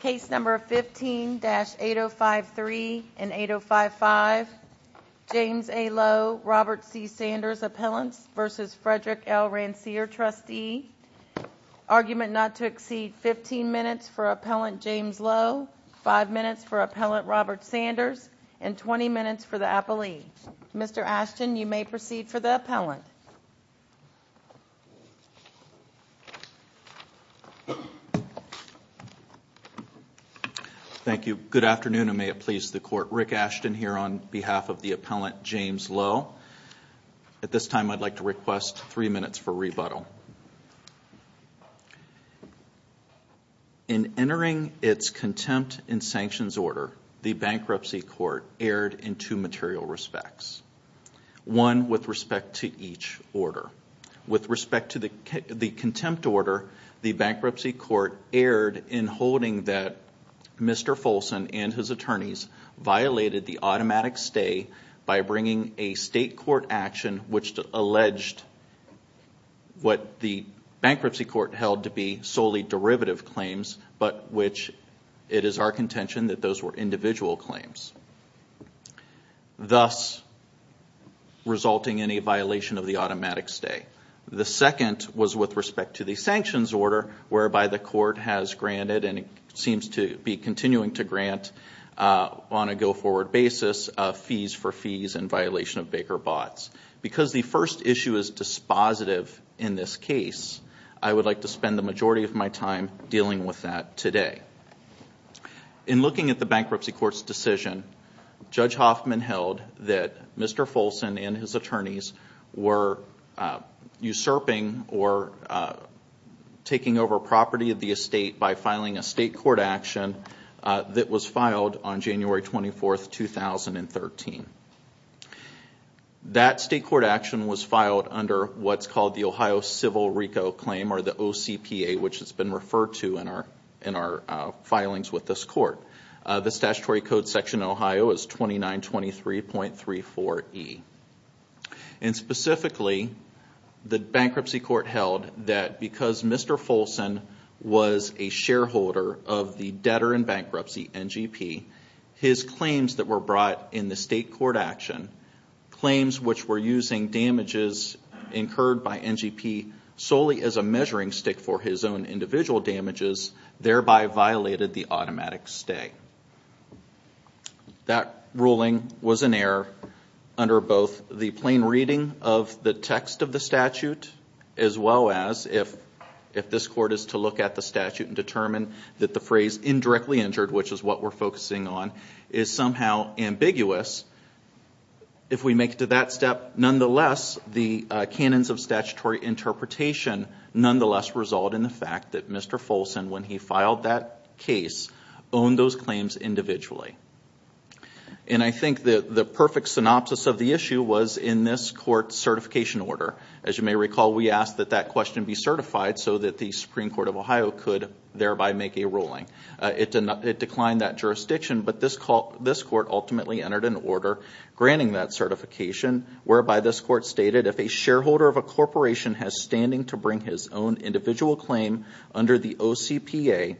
Case number 15-8053 and 8055. James A. Lowe, Robert C. Sanders, Appellants vs. Frederick L. Ranciere, Trustee. Argument not to exceed 15 minutes for Appellant James Lowe, 5 minutes for Appellant Robert Sanders, and 20 minutes for the Thank you. Good afternoon and may it please the Court. Rick Ashton here on behalf of the Appellant James Lowe. At this time I'd like to request three minutes for rebuttal. In entering its contempt in sanctions order, the bankruptcy court erred in two material respects. One with respect to each order. With respect to the contempt order, the bankruptcy court erred in holding that Mr. Folson and his attorneys violated the automatic stay by bringing a state court action which alleged what the bankruptcy court held to be solely derivative claims, but which it is our contention that those were individual claims. Thus resulting in a violation of the automatic stay. The second was with respect to the sanctions order whereby the court has granted and it seems to be continuing to grant on a go-forward basis of fees for fees and violation of Baker bots. Because the first issue is dispositive in this case, I would like to spend the majority of my time dealing with that today. In looking at the decision, Judge Hoffman held that Mr. Folson and his attorneys were usurping or taking over property of the estate by filing a state court action that was filed on January 24th, 2013. That state court action was filed under what's called the Ohio Civil RICO claim or the OCPA, which has been referred to in our filings with this court. The statutory code section in Ohio is 2923.34E. Specifically, the bankruptcy court held that because Mr. Folson was a shareholder of the debtor in bankruptcy, NGP, his claims that were brought in the state court action, claims which were using damages incurred by NGP solely as a measuring stick for his own individual damages, thereby violated the automatic stay. That ruling was an error under both the plain reading of the text of the statute, as well as if this court is to look at the statute and determine that the phrase indirectly injured, which is what we're focusing on, is somehow ambiguous. If we make it to that step, nonetheless, the canons of statutory interpretation, nonetheless, result in the fact that Mr. Folson, when he filed that case, owned those claims individually. I think that the perfect synopsis of the issue was in this court's certification order. As you may recall, we asked that that question be certified so that the Supreme Court of Ohio could thereby make a ruling. It declined that jurisdiction, but this court ultimately entered an order granting that Mr. Folson has standing to bring his own individual claim under the OCPA.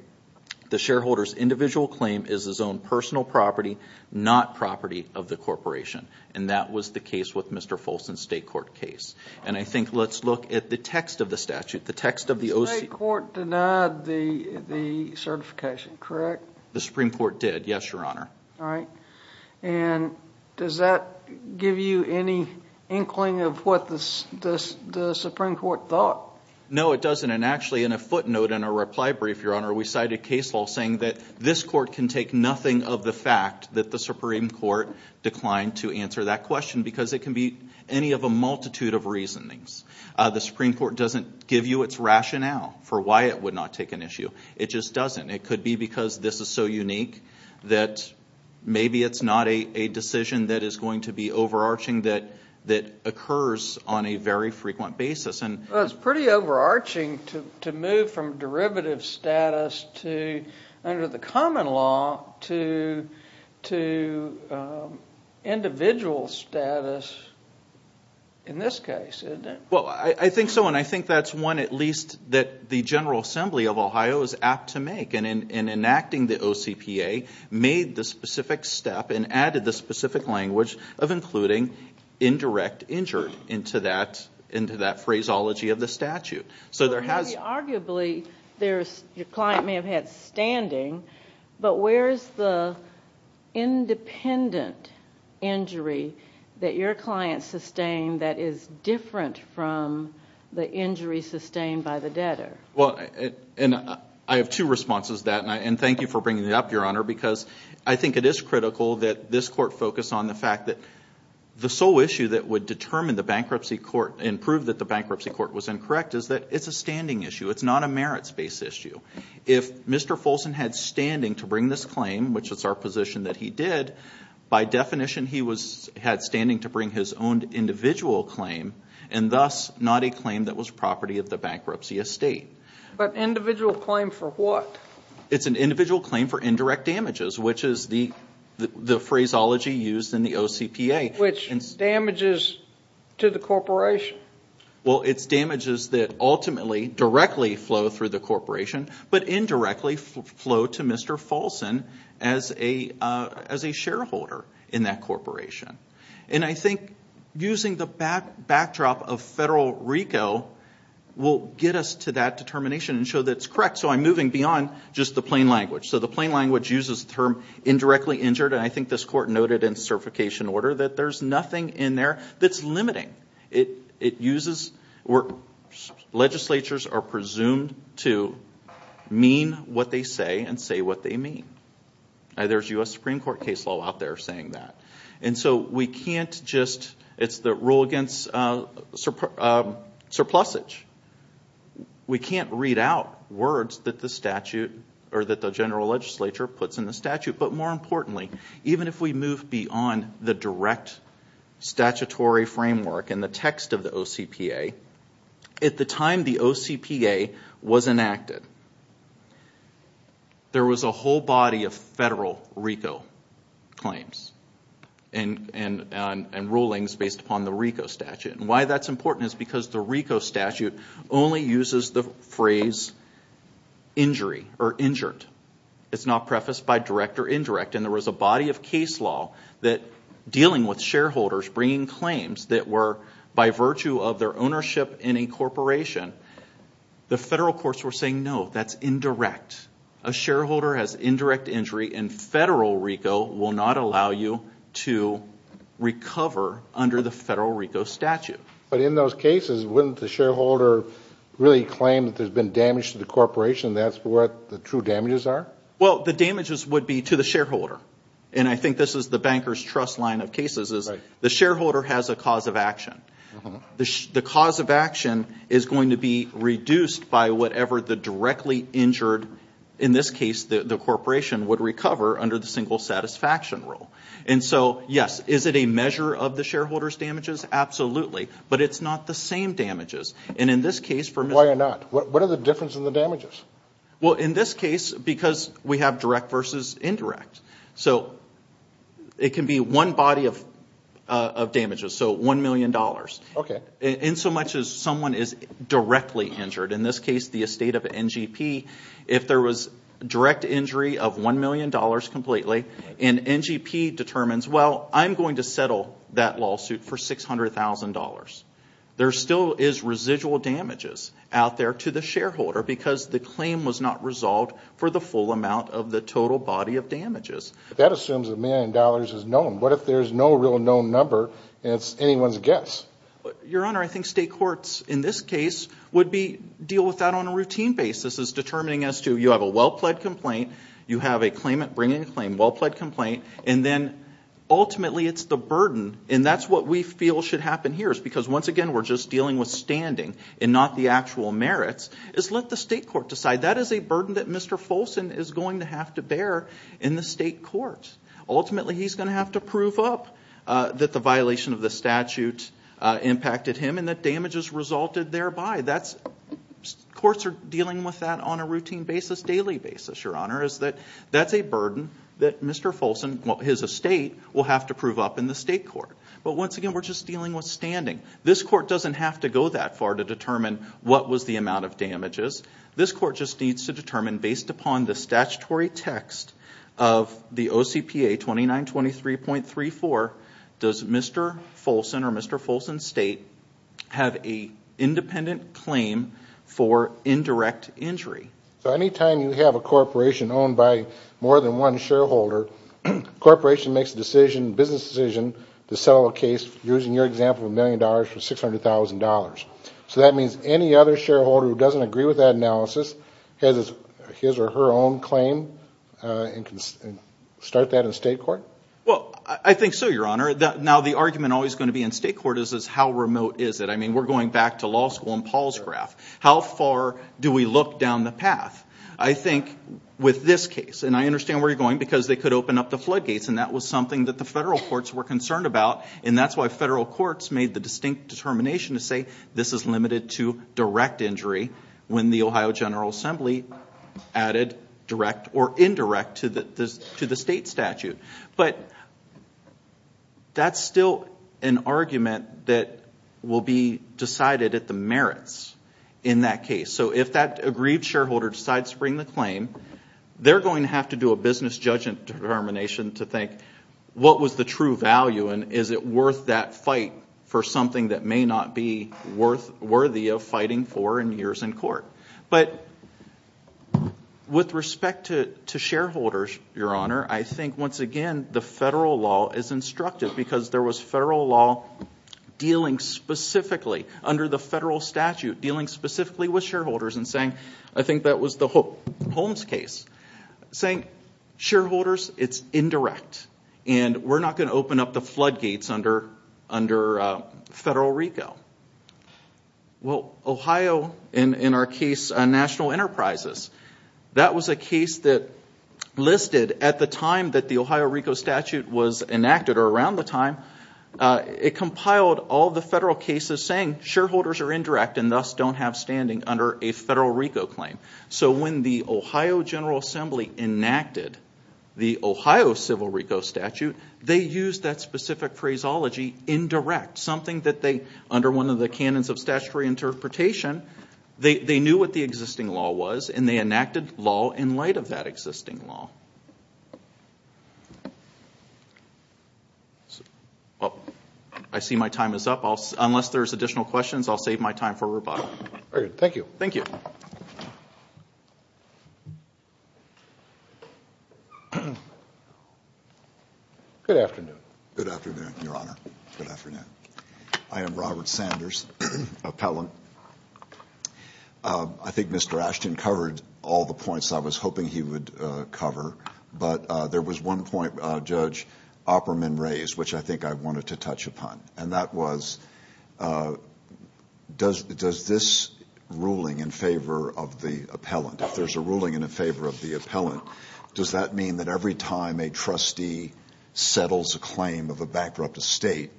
The shareholder's individual claim is his own personal property, not property of the corporation. That was the case with Mr. Folson's state court case. I think let's look at the text of the statute, the text of the OCPA. The state court denied the certification, correct? The Supreme Court did, yes, your honor. All right. Does that give you any inkling of what the Supreme Court thought? No, it doesn't. Actually, in a footnote in a reply brief, your honor, we cited case law saying that this court can take nothing of the fact that the Supreme Court declined to answer that question because it can be any of a multitude of reasonings. The Supreme Court doesn't give you its rationale for why it would not take an issue. It just doesn't. It could be because this is so unique that maybe it's not a decision that is going to be overarching that occurs on a very frequent basis. It's pretty overarching to move from derivative status to, under the common law, to individual status in this case, isn't it? Well, I think so, and I think that's one at least that the General Assembly of Ohio is apt to make. In enacting the OCPA, made the specific step and added the specific language of including indirect injured into that into that phraseology of the statute. Arguably, your client may have had standing, but where's the independent injury that your client sustained that is different from the for bringing it up, your honor, because I think it is critical that this court focus on the fact that the sole issue that would determine the bankruptcy court and prove that the bankruptcy court was incorrect is that it's a standing issue. It's not a merits-based issue. If Mr. Folson had standing to bring this claim, which is our position that he did, by definition he was had standing to bring his own individual claim and thus not a claim that was it's an individual claim for indirect damages, which is the phraseology used in the OCPA. Which damages to the corporation? Well, it's damages that ultimately directly flow through the corporation, but indirectly flow to Mr. Folson as a shareholder in that corporation. And I think using the backdrop of federal RICO will get us to that determination and show that it's just the plain language. So the plain language uses the term indirectly injured and I think this court noted in certification order that there's nothing in there that's limiting. It uses where legislatures are presumed to mean what they say and say what they mean. There's U.S. Supreme Court case law out there saying that. And so we can't just, it's the rule against surplusage. We can't read out words that the statute or that the general legislature puts in the statute. But more importantly, even if we move beyond the direct statutory framework and the text of the OCPA, at the time the OCPA was enacted, there was a whole body of federal RICO claims and rulings based upon the RICO statute. And why that's important is because the RICO statute only uses the phrase injury or injured. It's not prefaced by direct or indirect. And there was a body of case law that dealing with shareholders bringing claims that were by virtue of their ownership in a corporation, the federal courts were saying no, that's indirect. A shareholder has indirect injury and federal RICO will not allow you to recover under the federal RICO statute. But in those cases wouldn't the shareholder really claim that there's been damage to the corporation that's what the true damages are? Well the damages would be to the shareholder. And I think this is the bankers trust line of cases is the shareholder has a cause of action. The cause of action is going to be reduced by whatever the directly injured, in this case the corporation, would recover under the single satisfaction rule. And so yes, is it a measure of the damages? And in this case... Why not? What are the difference in the damages? Well in this case because we have direct versus indirect. So it can be one body of damages, so one million dollars. Okay. In so much as someone is directly injured, in this case the estate of NGP, if there was direct injury of one million dollars completely and NGP determines well I'm going to settle that lawsuit for six is residual damages out there to the shareholder because the claim was not resolved for the full amount of the total body of damages. That assumes a million dollars is known. What if there's no real known number and it's anyone's guess? Your Honor, I think state courts in this case would be deal with that on a routine basis is determining as to you have a well-pled complaint, you have a claimant bringing a claim, well-pled complaint, and then ultimately it's the burden and that's what we feel should happen here is because once again we're just dealing with standing and not the actual merits, is let the state court decide. That is a burden that Mr. Folson is going to have to bear in the state court. Ultimately he's going to have to prove up that the violation of the statute impacted him and that damages resulted thereby. That's courts are dealing with that on a routine basis, daily basis, Your Honor, is that that's a burden that Mr. Folson, his estate, will have to prove up in the state court. But once again we're just dealing with standing. This court doesn't have to go that far to determine what was the amount of damages. This court just needs to determine based upon the statutory text of the OCPA 2923.34, does Mr. Folson or Mr. Folson's state have a independent claim for indirect injury? So anytime you have a corporation owned by more than one shareholder, corporation makes a decision, business decision, to settle a case using your example of a million dollars for six hundred thousand dollars. So that means any other shareholder who doesn't agree with that analysis has his or her own claim and can start that in state court? Well I think so, Your Honor. Now the argument always going to be in state court is how remote is it? I mean we're going back to law school and Paul's graph. How far do we look down the path? I think with this case, and I understand where you're going because they could open up the floodgates and that was something that the federal courts were concerned about and that's why federal courts made the distinct determination to say this is limited to direct injury when the Ohio General Assembly added direct or indirect to the state statute. But that's still an argument that will be decided at the merits in that case. So if that agreed shareholder decides to bring the claim, they're going to have to do a business judgment determination to think what was the true value and is it worth that fight for something that may not be worth worthy of fighting for in years in court. But with respect to shareholders, Your Honor, I think once again the federal law is instructive because there was federal law dealing specifically under the federal statute dealing specifically with shareholders and saying, I think that was the Holmes case, saying shareholders it's indirect and we're not going to open up the floodgates under federal RICO. Well Ohio, in our case on national enterprises, that was a case that listed at the time that the Ohio RICO statute was enacted or around the time, it compiled all the federal cases saying shareholders are indirect and thus don't have standing under a federal RICO claim. So when the Ohio General Assembly enacted the Ohio civil RICO statute, they used that specific phraseology, indirect, something that they, under one of the canons of statutory interpretation, they knew what the existing law was and they enacted law in light of that existing law. I see my time is up unless there's additional questions I'll save my time for rebuttal. Thank you. Thank you. Good afternoon. Good afternoon, Your Honor. Good afternoon. I am Robert Sanders, appellant. I think Mr. Ashton covered all the points I was hoping he would cover, but there was one point Judge Opperman raised which I think I would like to address. Does this ruling in favor of the appellant, if there's a ruling in favor of the appellant, does that mean that every time a trustee settles a claim of a bankrupt estate,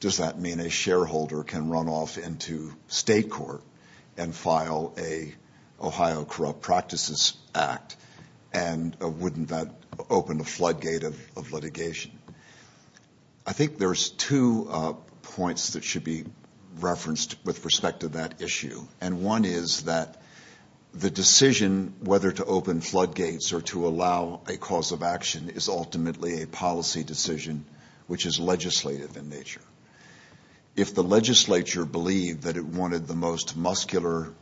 does that mean a shareholder can run off into state court and file a Ohio Corrupt Practices Act and wouldn't that open a should be referenced with respect to that issue? And one is that the decision whether to open floodgates or to allow a cause of action is ultimately a policy decision which is legislative in nature. If the legislature believed that it wanted the most muscular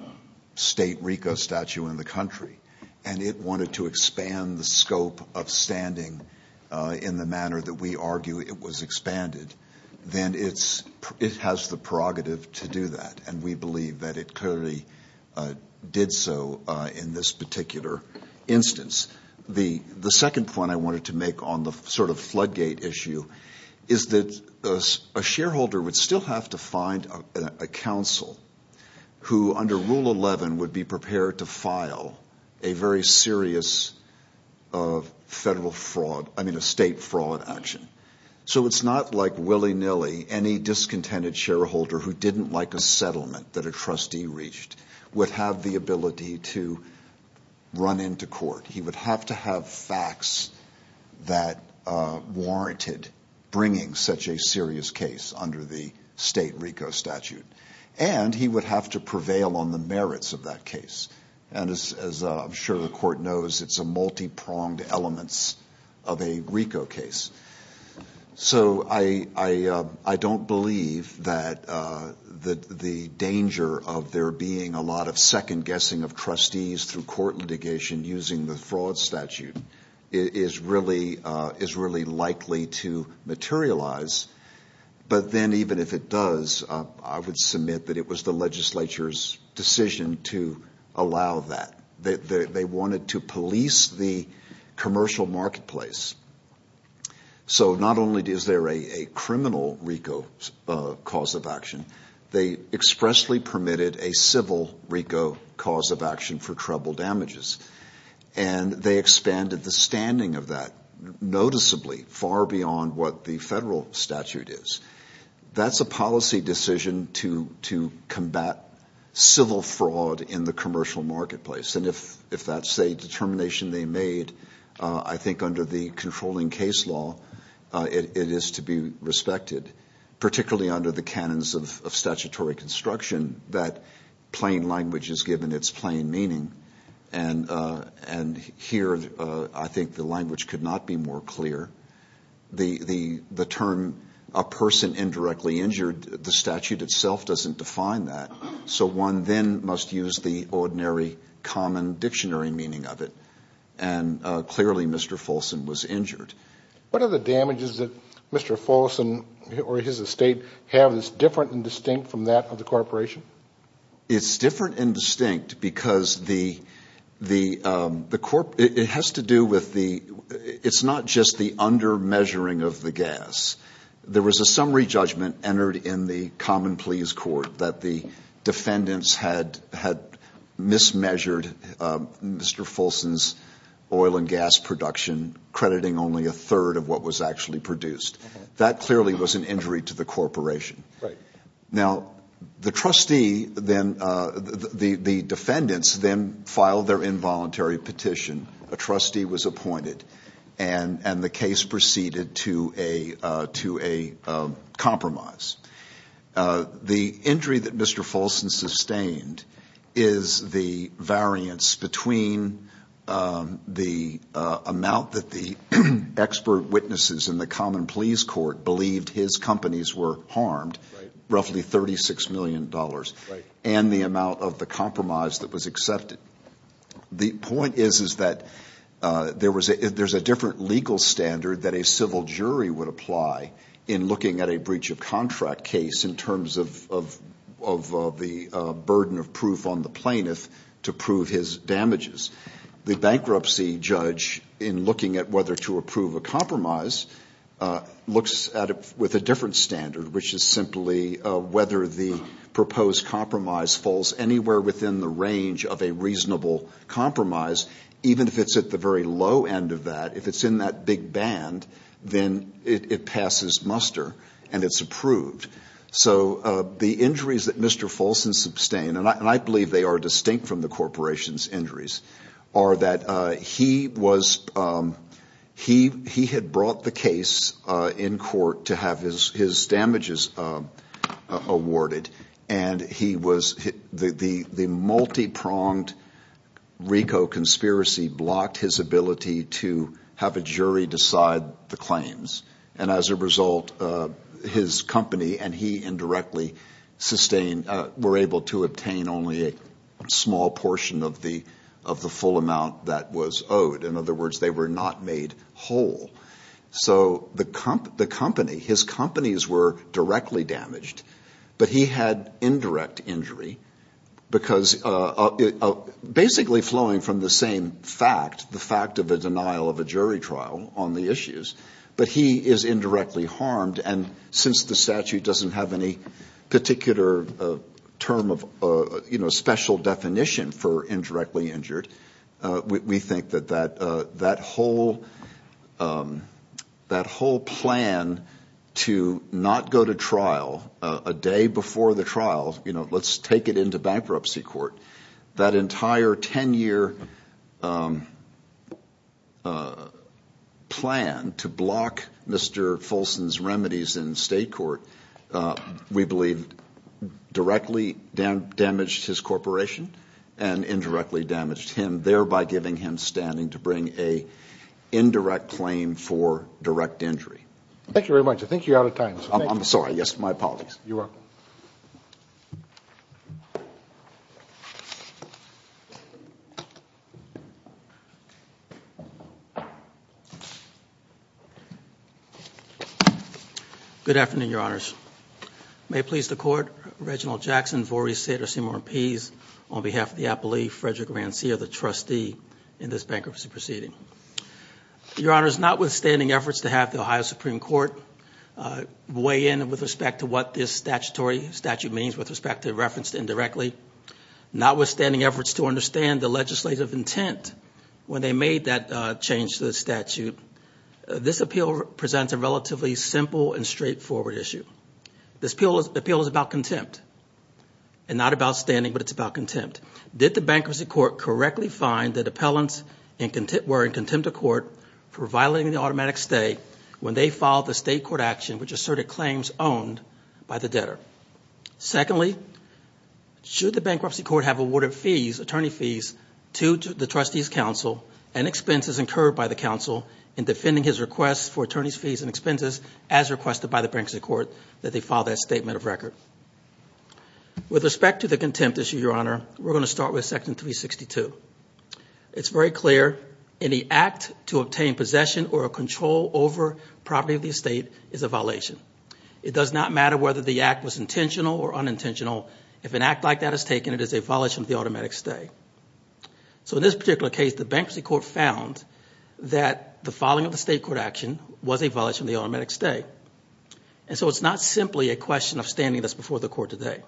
state RICO statute in the country and it wanted to expand the scope of standing in the manner that we argue it was expanded, then it has the prerogative to do that and we believe that it clearly did so in this particular instance. The second point I wanted to make on the sort of floodgate issue is that a shareholder would still have to find a counsel who under Rule 11 would be prepared to file a very serious federal fraud, I mean a It's not like willy-nilly any discontented shareholder who didn't like a settlement that a trustee reached would have the ability to run into court. He would have to have facts that warranted bringing such a serious case under the state RICO statute and he would have to prevail on the merits of that case and as I'm sure the court knows it's a multi-pronged elements of a RICO case. So I don't believe that the danger of there being a lot of second-guessing of trustees through court litigation using the fraud statute is really likely to materialize but then even if it does I would submit that it was the wanted to police the commercial marketplace. So not only is there a criminal RICO cause of action, they expressly permitted a civil RICO cause of action for trouble damages and they expanded the standing of that noticeably far beyond what the federal statute is. That's a policy decision to combat civil fraud in the commercial marketplace and if that's a determination they made I think under the controlling case law it is to be respected particularly under the canons of statutory construction that plain language is given its plain meaning and here I think the language could not be more clear. The term a person indirectly injured, the statute itself doesn't define that so one then must use the ordinary common dictionary meaning of it and clearly Mr. Folson was injured. What are the damages that Mr. Folson or his estate have that's different and distinct from that of the corporation? It's different and distinct because it has to do with the, it's not just the under measuring of the gas. There was a summary please court that the defendants had had mismeasured Mr. Folson's oil and gas production crediting only a third of what was actually produced. That clearly was an injury to the corporation. Now the trustee then, the defendants then filed their involuntary petition. A trustee was appointed and the case proceeded to a to a compromise. The injury that Mr. Folson sustained is the variance between the amount that the expert witnesses in the common pleas court believed his companies were harmed, roughly 36 million dollars, and the amount of the compromise that was accepted. The point is is that there was there's a different legal standard that a civil jury would apply in looking at a breach of contract case in terms of the burden of proof on the plaintiff to prove his damages. The bankruptcy judge in looking at whether to approve a compromise looks at it with a different standard which is simply whether the proposed compromise falls anywhere within the range of a reasonable compromise even if it's at the very low end of that. If it's in that big band then it passes muster and it's approved. So the injuries that Mr. Folson sustained, and I believe they are distinct from the corporation's injuries, are that he was he he had brought the case in court to have his RICO conspiracy blocked his ability to have a jury decide the claims and as a result his company and he indirectly sustained were able to obtain only a small portion of the of the full amount that was owed. In other words they were not made whole. So the company, his companies were directly damaged but he had indirect injury because of basically flowing from the same fact the fact of the denial of a jury trial on the issues but he is indirectly harmed and since the statute doesn't have any particular term of special definition for indirectly injured we think that whole plan to not go to the trial, you know, let's take it into bankruptcy court, that entire 10-year plan to block Mr. Folson's remedies in state court we believe directly damaged his corporation and indirectly damaged him thereby giving him standing to bring a indirect claim for direct injury. Thank you very much I think you're out of time. I'm sorry yes my apologies. You're welcome. Good afternoon your honors. May please the court Reginald Jackson, Voorhees, Sater, Seymour and Pease on behalf of the appellee Frederick Rancia the trustee in this bankruptcy proceeding. Your honors not weigh in with respect to what this statutory statute means with respect to referenced indirectly notwithstanding efforts to understand the legislative intent when they made that change to the statute. This appeal presents a relatively simple and straightforward issue. This appeal is about contempt and not about standing but it's about contempt. Did the bankruptcy court correctly find that appellants were in contempt of court for violating the automatic stay when they filed the state court action which asserted claims owned by the debtor. Secondly should the bankruptcy court have awarded fees attorney fees to the trustees counsel and expenses incurred by the counsel in defending his requests for attorneys fees and expenses as requested by the bankruptcy court that they file that statement of record. With respect to the contempt issue your honor we're going to start with section 362. It's very clear any act to obtain possession or control over property of the estate is a violation. It does not matter whether the act was intentional or unintentional if an act like that is taken it is a violation of the automatic stay. So in this particular case the bankruptcy court found that the filing of the state court action was a violation of the automatic stay and so it's not simply a question of standing this before the court today.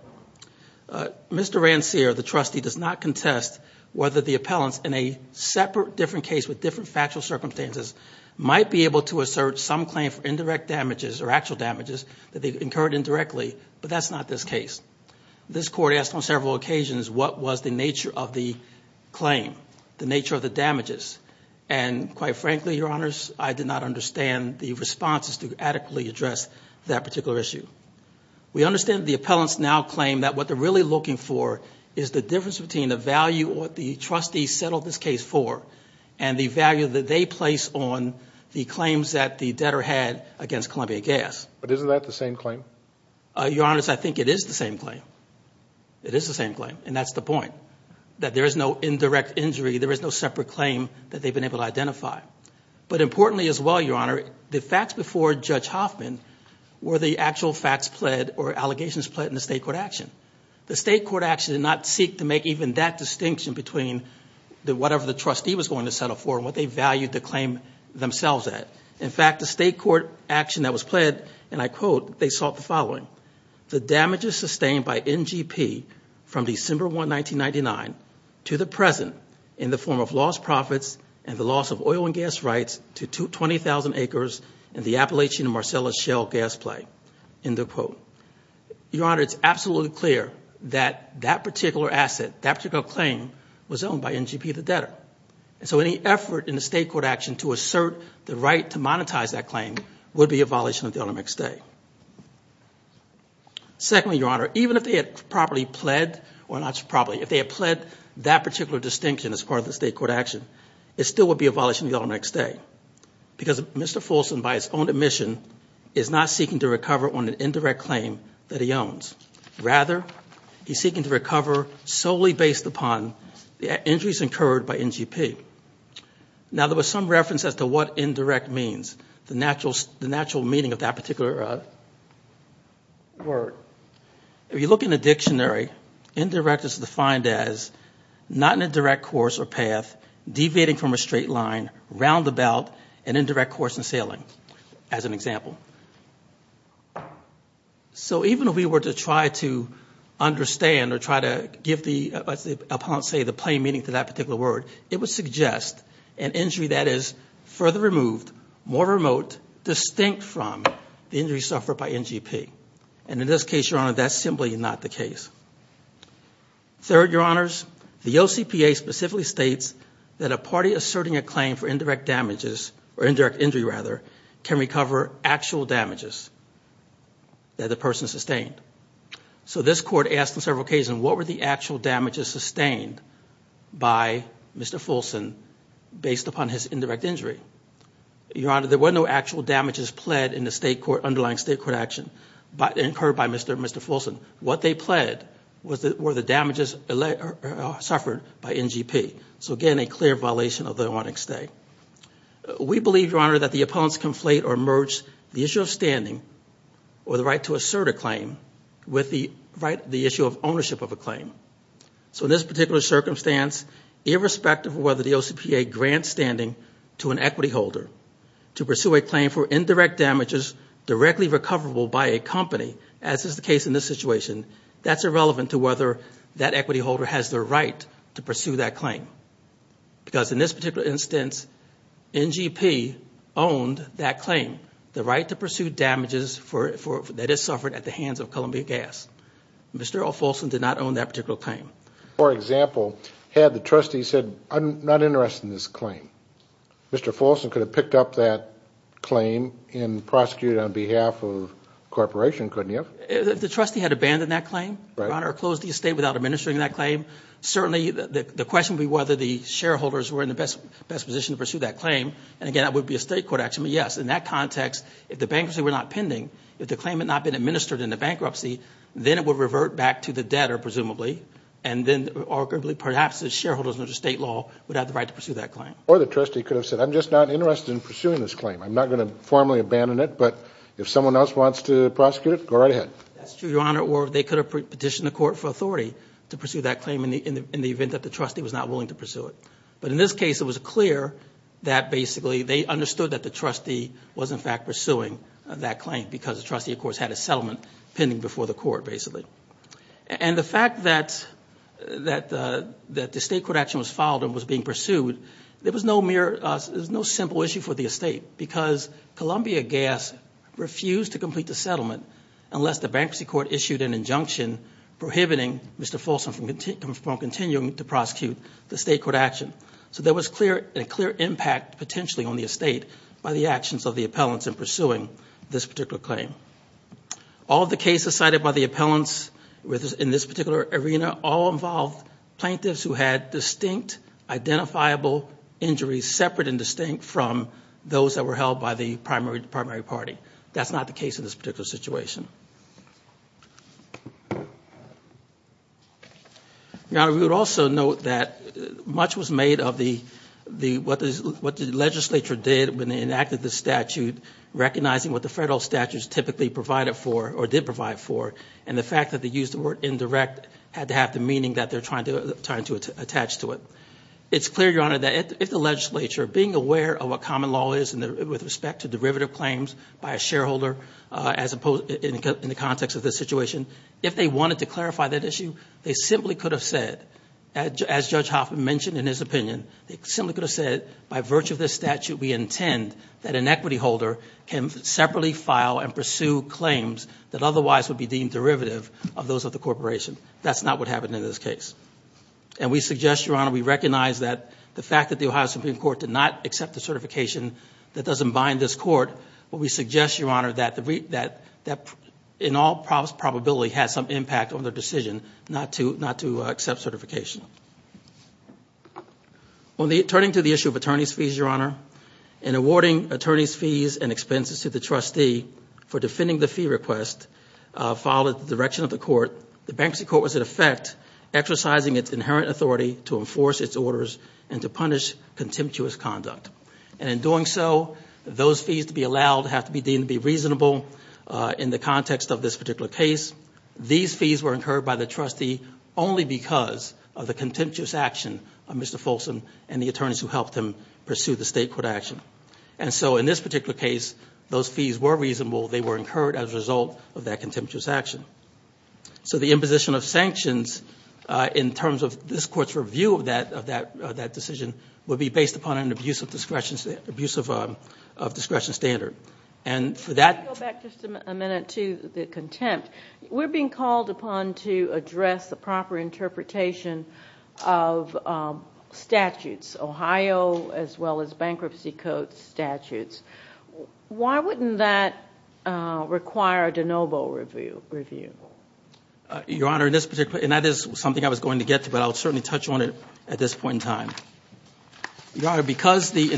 Mr. Rancia the trustee does not contest whether the appellants in a separate different case with different factual circumstances might be able to assert some claim for indirect damages or actual damages that they've incurred indirectly but that's not this case. This court asked on several occasions what was the nature of the claim the nature of the damages and quite frankly your honors I did not understand the responses to adequately address that particular issue. We understand the appellants now claim that what they're really looking for is the difference between the value or the trustee settled this case for and the value that they place on the claims that the debtor had against Columbia Gas. But isn't that the same claim? Your honors I think it is the same claim it is the same claim and that's the point that there is no indirect injury there is no separate claim that they've been able to identify but importantly as well your honor the facts before Judge Hoffman were the actual facts pled or allegations pled in the state court action. The state court action did not seek to make even that distinction between the whatever the trustee was going to settle for what they valued the claim themselves at. In fact the state court action that was pled and I quote they sought the following the damages sustained by NGP from December 1, 1999 to the present in the form of lost profits and the loss of oil and gas rights to 20,000 acres in the Appalachian and Marcellus Shell gas site. End of quote. Your honor it's absolutely clear that that particular asset that particular claim was owned by NGP the debtor and so any effort in the state court action to assert the right to monetize that claim would be a violation of the automatic stay. Secondly your honor even if they had properly pled or not properly if they had pled that particular distinction as part of the state court action it still would be a violation of the automatic stay because Mr. Folsom by his own admission is not seeking to recover on an indirect claim that he owns. Rather he's seeking to recover solely based upon the injuries incurred by NGP. Now there was some reference as to what indirect means the natural the natural meaning of that particular word. If you look in the dictionary indirect is defined as not in a direct course or path deviating from a course in sailing as an example. So even if we were to try to understand or try to give the opponents say the plain meaning to that particular word it would suggest an injury that is further removed more remote distinct from the injury suffered by NGP and in this case your honor that's simply not the case. Third your honors the OCPA specifically states that a party asserting a claim for indirect damages or indirect injury rather can recover actual damages that the person sustained. So this court asked on several occasions what were the actual damages sustained by Mr. Folsom based upon his indirect injury. Your honor there were no actual damages pled in the state court underlying state court action but incurred by Mr. Folsom. What they pled was that were the We believe your honor that the opponents conflate or merge the issue of standing or the right to assert a claim with the right the issue of ownership of a claim. So in this particular circumstance irrespective of whether the OCPA grants standing to an equity holder to pursue a claim for indirect damages directly recoverable by a company as is the case in this situation that's irrelevant to whether that equity holder has the right to pursue that claim. Because in this particular instance NGP owned that claim the right to pursue damages for it for that is suffered at the hands of Columbia Gas. Mr. Folsom did not own that particular claim. For example had the trustee said I'm not interested in this claim. Mr. Folsom could have picked up that claim and prosecuted on behalf of corporation couldn't you? If the trustee had abandoned that claim your honor closed the estate without administering that claim certainly the question be whether the shareholders were in the best best position to pursue that claim and again that would be a state court action but yes in that context if the bankruptcy were not pending if the claim had not been administered in the bankruptcy then it would revert back to the debtor presumably and then arguably perhaps the shareholders under state law would have the right to pursue that claim. Or the trustee could have said I'm just not interested in pursuing this claim I'm not going to formally abandon it but if someone else wants to prosecute it go right ahead. That's true your honor or they could have petitioned the court for authority to pursue that claim in the event that the trustee was not willing to pursue it. But in this case it was clear that basically they understood that the trustee was in fact pursuing that claim because the trustee of course had a settlement pending before the court basically. And the fact that that that the state court action was filed and was being pursued there was no mere there's no simple issue for the estate because Columbia Gas refused to complete the settlement unless the bankruptcy issued an injunction prohibiting Mr. Folsom from continuing to prosecute the state court action. So there was clear a clear impact potentially on the estate by the actions of the appellants in pursuing this particular claim. All the cases cited by the appellants in this particular arena all involved plaintiffs who had distinct identifiable injuries separate and distinct from those that were held by the primary party. That's not the case in this particular situation. Now we would also note that much was made of the the what is what the legislature did when they enacted the statute recognizing what the federal statutes typically provided for or did provide for and the fact that they used the word indirect had to have the meaning that they're trying to trying to attach to it. It's clear your honor that if the legislature being aware of what common law is and with respect to derivative claims by a in the context of this situation if they wanted to clarify that issue they simply could have said as Judge Hoffman mentioned in his opinion they simply could have said by virtue of this statute we intend that an equity holder can separately file and pursue claims that otherwise would be deemed derivative of those of the corporation. That's not what happened in this case and we suggest your honor we recognize that the fact that the Ohio Supreme Court did not accept the certification that doesn't bind this court but we in all probability has some impact on the decision not to not to accept certification. Turning to the issue of attorneys fees your honor in awarding attorneys fees and expenses to the trustee for defending the fee request followed the direction of the court. The bankruptcy court was in effect exercising its inherent authority to enforce its orders and to punish contemptuous conduct and in doing so those fees to be allowed have to be reasonable in the context of this particular case. These fees were incurred by the trustee only because of the contemptuous action of Mr. Folsom and the attorneys who helped him pursue the state court action and so in this particular case those fees were reasonable they were incurred as a result of that contemptuous action. So the imposition of sanctions in terms of this court's review of that decision would be based upon an abuse of discretion standard and for that... Let me go back just a minute to the contempt. We're being called upon to address the proper interpretation of statutes Ohio as well as bankruptcy code statutes. Why wouldn't that require a de novo review? Your honor in this particular and that is something I was going to get to but I'll certainly touch on it at this point in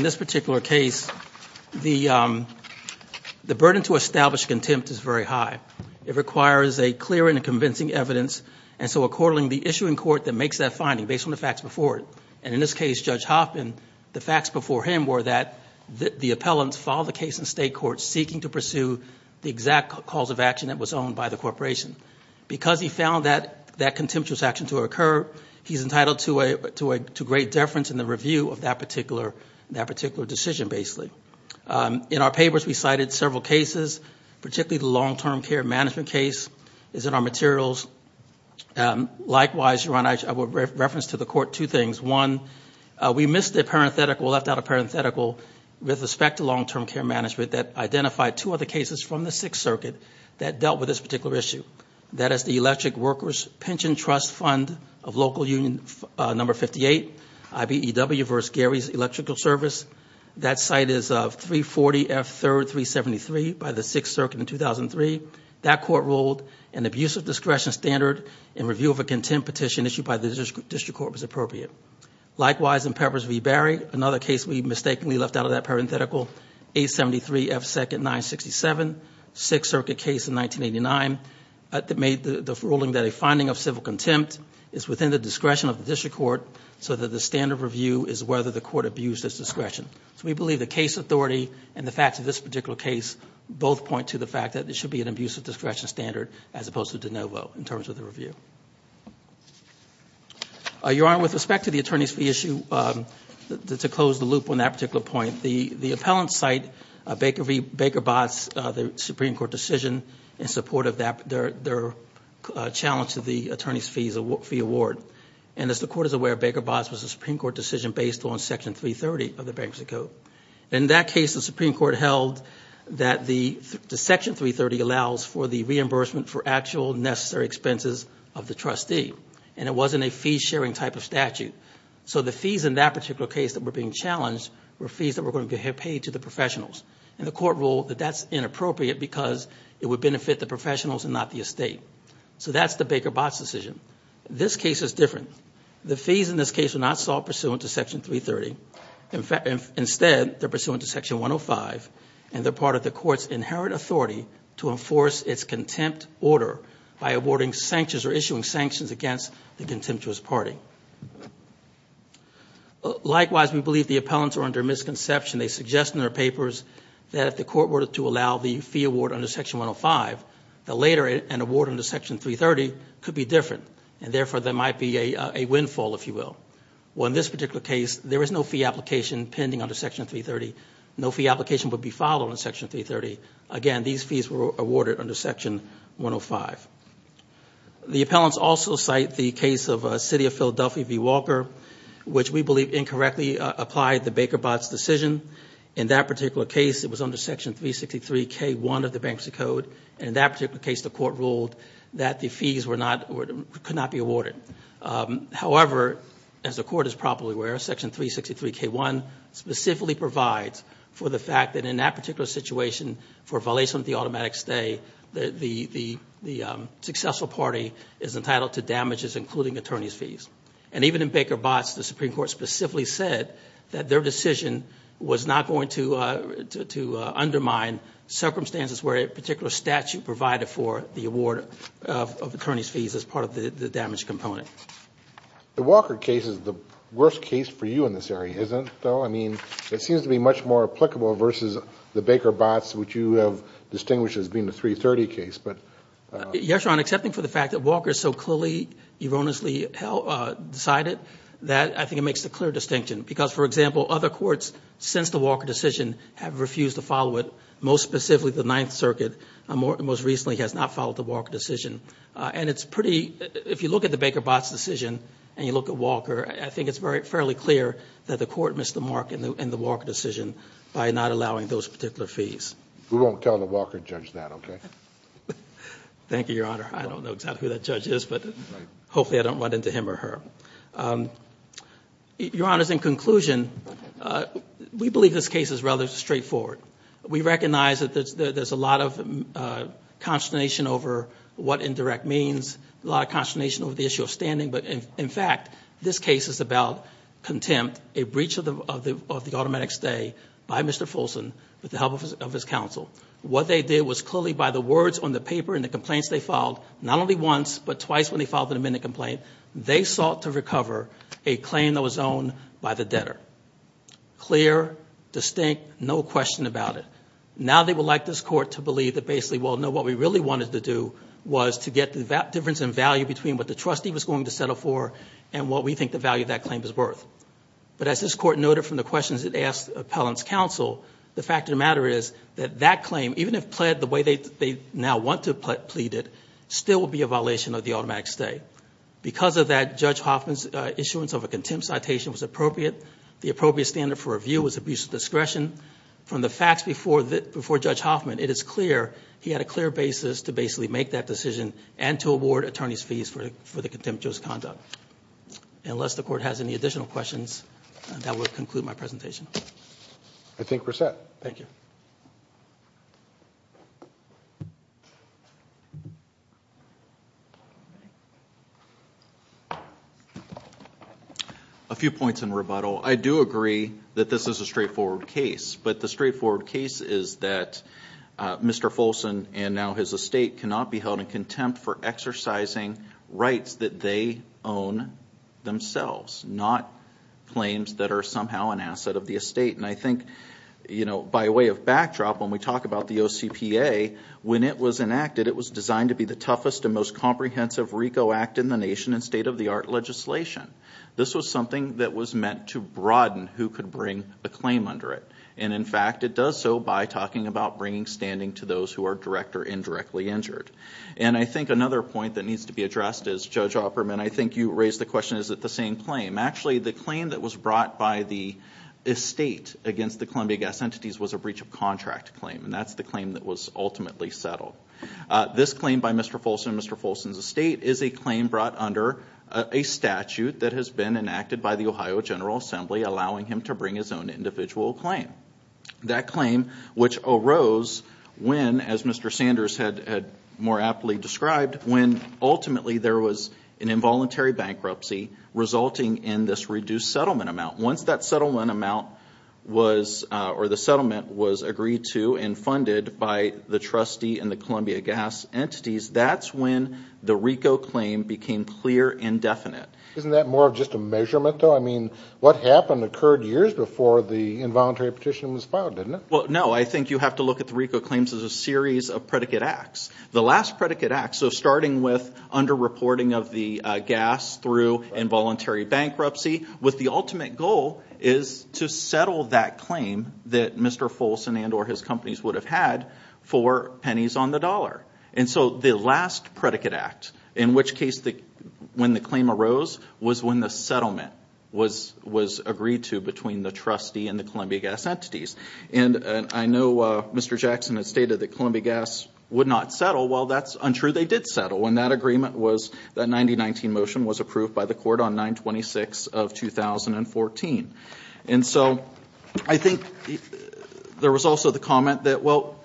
this particular case the burden to establish contempt is very high. It requires a clear and convincing evidence and so according the issuing court that makes that finding based on the facts before it and in this case Judge Hopkin the facts before him were that the appellants filed a case in state court seeking to pursue the exact cause of action that was owned by the corporation. Because he found that contemptuous action to occur he's entitled to great deference in the review of that particular that particular decision basically. In our papers we cited several cases particularly the long-term care management case is in our materials. Likewise your honor I would reference to the court two things. One we missed the parenthetical left out a parenthetical with respect to long-term care management that identified two other cases from the Sixth Circuit that dealt with this particular issue. That is the IBEW versus Gary's electrical service that site is of 340 F 3rd 373 by the Sixth Circuit in 2003. That court ruled an abusive discretion standard in review of a contempt petition issued by the district court was appropriate. Likewise in Peppers v. Barry another case we mistakenly left out of that parenthetical 873 F 2nd 967 Sixth Circuit case in 1989 that made the ruling that a finding of civil contempt is within the discretion of the district court so that the standard review is whether the court abused its discretion. So we believe the case authority and the facts of this particular case both point to the fact that there should be an abusive discretion standard as opposed to de novo in terms of the review. Your honor with respect to the attorneys fee issue to close the loop on that particular point the the appellant site Baker v. Baker Botts the Supreme Court decision in support of that their challenge to the attorneys fees award and as the court is aware Baker Botts was a Supreme Court decision based on section 330 of the bankruptcy code. In that case the Supreme Court held that the section 330 allows for the reimbursement for actual necessary expenses of the trustee and it wasn't a fee-sharing type of statute. So the fees in that particular case that were being challenged were fees that were going to have paid to the professionals and the court ruled that that's inappropriate because it would benefit the state. So that's the Baker Botts decision. This case is different. The fees in this case were not sought pursuant to section 330. Instead they're pursuant to section 105 and they're part of the court's inherent authority to enforce its contempt order by awarding sanctions or issuing sanctions against the contemptuous party. Likewise we believe the appellants are under misconception. They suggest in their papers that the court were to allow the fee award under section 105. That later an award under section 330 could be different and therefore there might be a windfall if you will. Well in this particular case there is no fee application pending under section 330. No fee application would be followed in section 330. Again these fees were awarded under section 105. The appellants also cite the case of City of Philadelphia v. Walker which we believe incorrectly applied the Baker Botts decision. In that particular case it was under section 363k1 of the Bankruptcy Code. In that particular case the court ruled that the fees were not or could not be awarded. However as the court is probably aware section 363k1 specifically provides for the fact that in that particular situation for violation of the automatic stay the successful party is entitled to damages including attorney's fees. Even in Baker Botts the Supreme Court specifically said that their decision was not going to undermine circumstances where a particular statute provided for the award of attorney's fees as part of the damage component. The Walker case is the worst case for you in this area isn't though? I mean it seems to be much more applicable versus the Baker Botts which you have distinguished as being the 330 case. Yes Your Honor, excepting for the fact that Walker so clearly erroneously decided that I think it is a clear distinction because for example other courts since the Walker decision have refused to follow it most specifically the Ninth Circuit most recently has not followed the Walker decision and it's pretty if you look at the Baker Botts decision and you look at Walker I think it's very fairly clear that the court missed the mark in the Walker decision by not allowing those particular fees. We won't tell the Walker judge that okay? Thank you Your Honor I don't know exactly who that judge is but hopefully I don't run into him or her. Your Honor, in conclusion we believe this case is rather straightforward. We recognize that there's a lot of consternation over what indirect means, a lot of consternation over the issue of standing but in fact this case is about contempt, a breach of the of the of the automatic stay by Mr. Fulson with the help of his counsel. What they did was clearly by the words on the paper and the complaints they filed not only once but twice when they filed the complaint they sought to recover a claim that was owned by the debtor. Clear, distinct, no question about it. Now they would like this court to believe that basically well no what we really wanted to do was to get the difference in value between what the trustee was going to settle for and what we think the value that claim is worth. But as this court noted from the questions it asked appellants counsel the fact of the matter is that that claim even if pled the way they now want to plead it still will be a violation of the automatic stay. Because of that Judge Hoffman's issuance of a contempt citation was appropriate. The appropriate standard for review was abuse of discretion. From the facts before that before Judge Hoffman it is clear he had a clear basis to basically make that decision and to award attorneys fees for the contempt just conduct. Unless the court has any additional questions that would conclude my presentation. I think we're set. Thank you. A few points in rebuttal. I do agree that this is a straightforward case but the straightforward case is that Mr. Folson and now his estate cannot be held in contempt for exercising rights that they own themselves not claims that are somehow an asset of the estate. And I think you know by way of backdrop when we talk about the OCPA when it was enacted it was designed to be the act in the nation and state-of-the-art legislation. This was something that was meant to broaden who could bring a claim under it. And in fact it does so by talking about bringing standing to those who are direct or indirectly injured. And I think another point that needs to be addressed is Judge Opperman I think you raised the question is that the same claim. Actually the claim that was brought by the estate against the Columbia Gas Entities was a breach of contract claim and that's the claim that was ultimately settled. This claim by Mr. Folson's estate is a claim brought under a statute that has been enacted by the Ohio General Assembly allowing him to bring his own individual claim. That claim which arose when as Mr. Sanders had more aptly described when ultimately there was an involuntary bankruptcy resulting in this reduced settlement amount. Once that settlement amount was or the settlement was agreed to and the RICO claim became clear and definite. Isn't that more of just a measurement though I mean what happened occurred years before the involuntary petition was filed didn't it? Well no I think you have to look at the RICO claims as a series of predicate acts. The last predicate act so starting with under reporting of the gas through involuntary bankruptcy with the ultimate goal is to settle that claim that Mr. Folson and or his companies would have had for pennies on the dollar and so the last predicate act in which case the when the claim arose was when the settlement was was agreed to between the trustee and the Columbia Gas Entities and I know Mr. Jackson has stated that Columbia Gas would not settle well that's untrue they did settle when that agreement was that 9019 motion was approved by the court on 926 of 2014 and so I think there was also the comment that well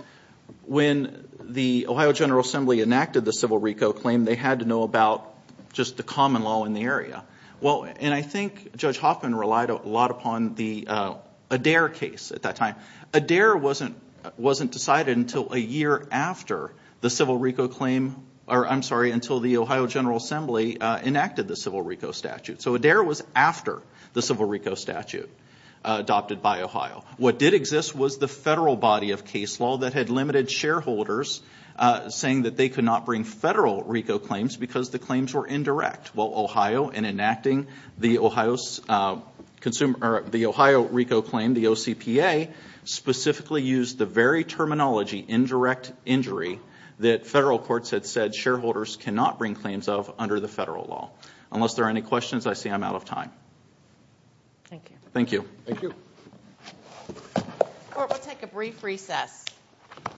when the Ohio General Assembly enacted the civil RICO claim they had to know about just the common law in the area well and I think Judge Hoffman relied a lot upon the Adair case at that time Adair wasn't wasn't decided until a year after the civil RICO claim or I'm sorry until the Ohio General Assembly enacted the civil RICO statute so Adair was after the civil RICO statute adopted by Ohio what did exist was the federal body of case law that had limited shareholders saying that they could not bring federal RICO claims because the claims were indirect well Ohio and enacting the Ohio's consumer the Ohio RICO claim the OCPA specifically used the very terminology indirect injury that federal courts had said shareholders cannot bring claims of under the federal law unless there are any questions I see I'm out of time thank you thank you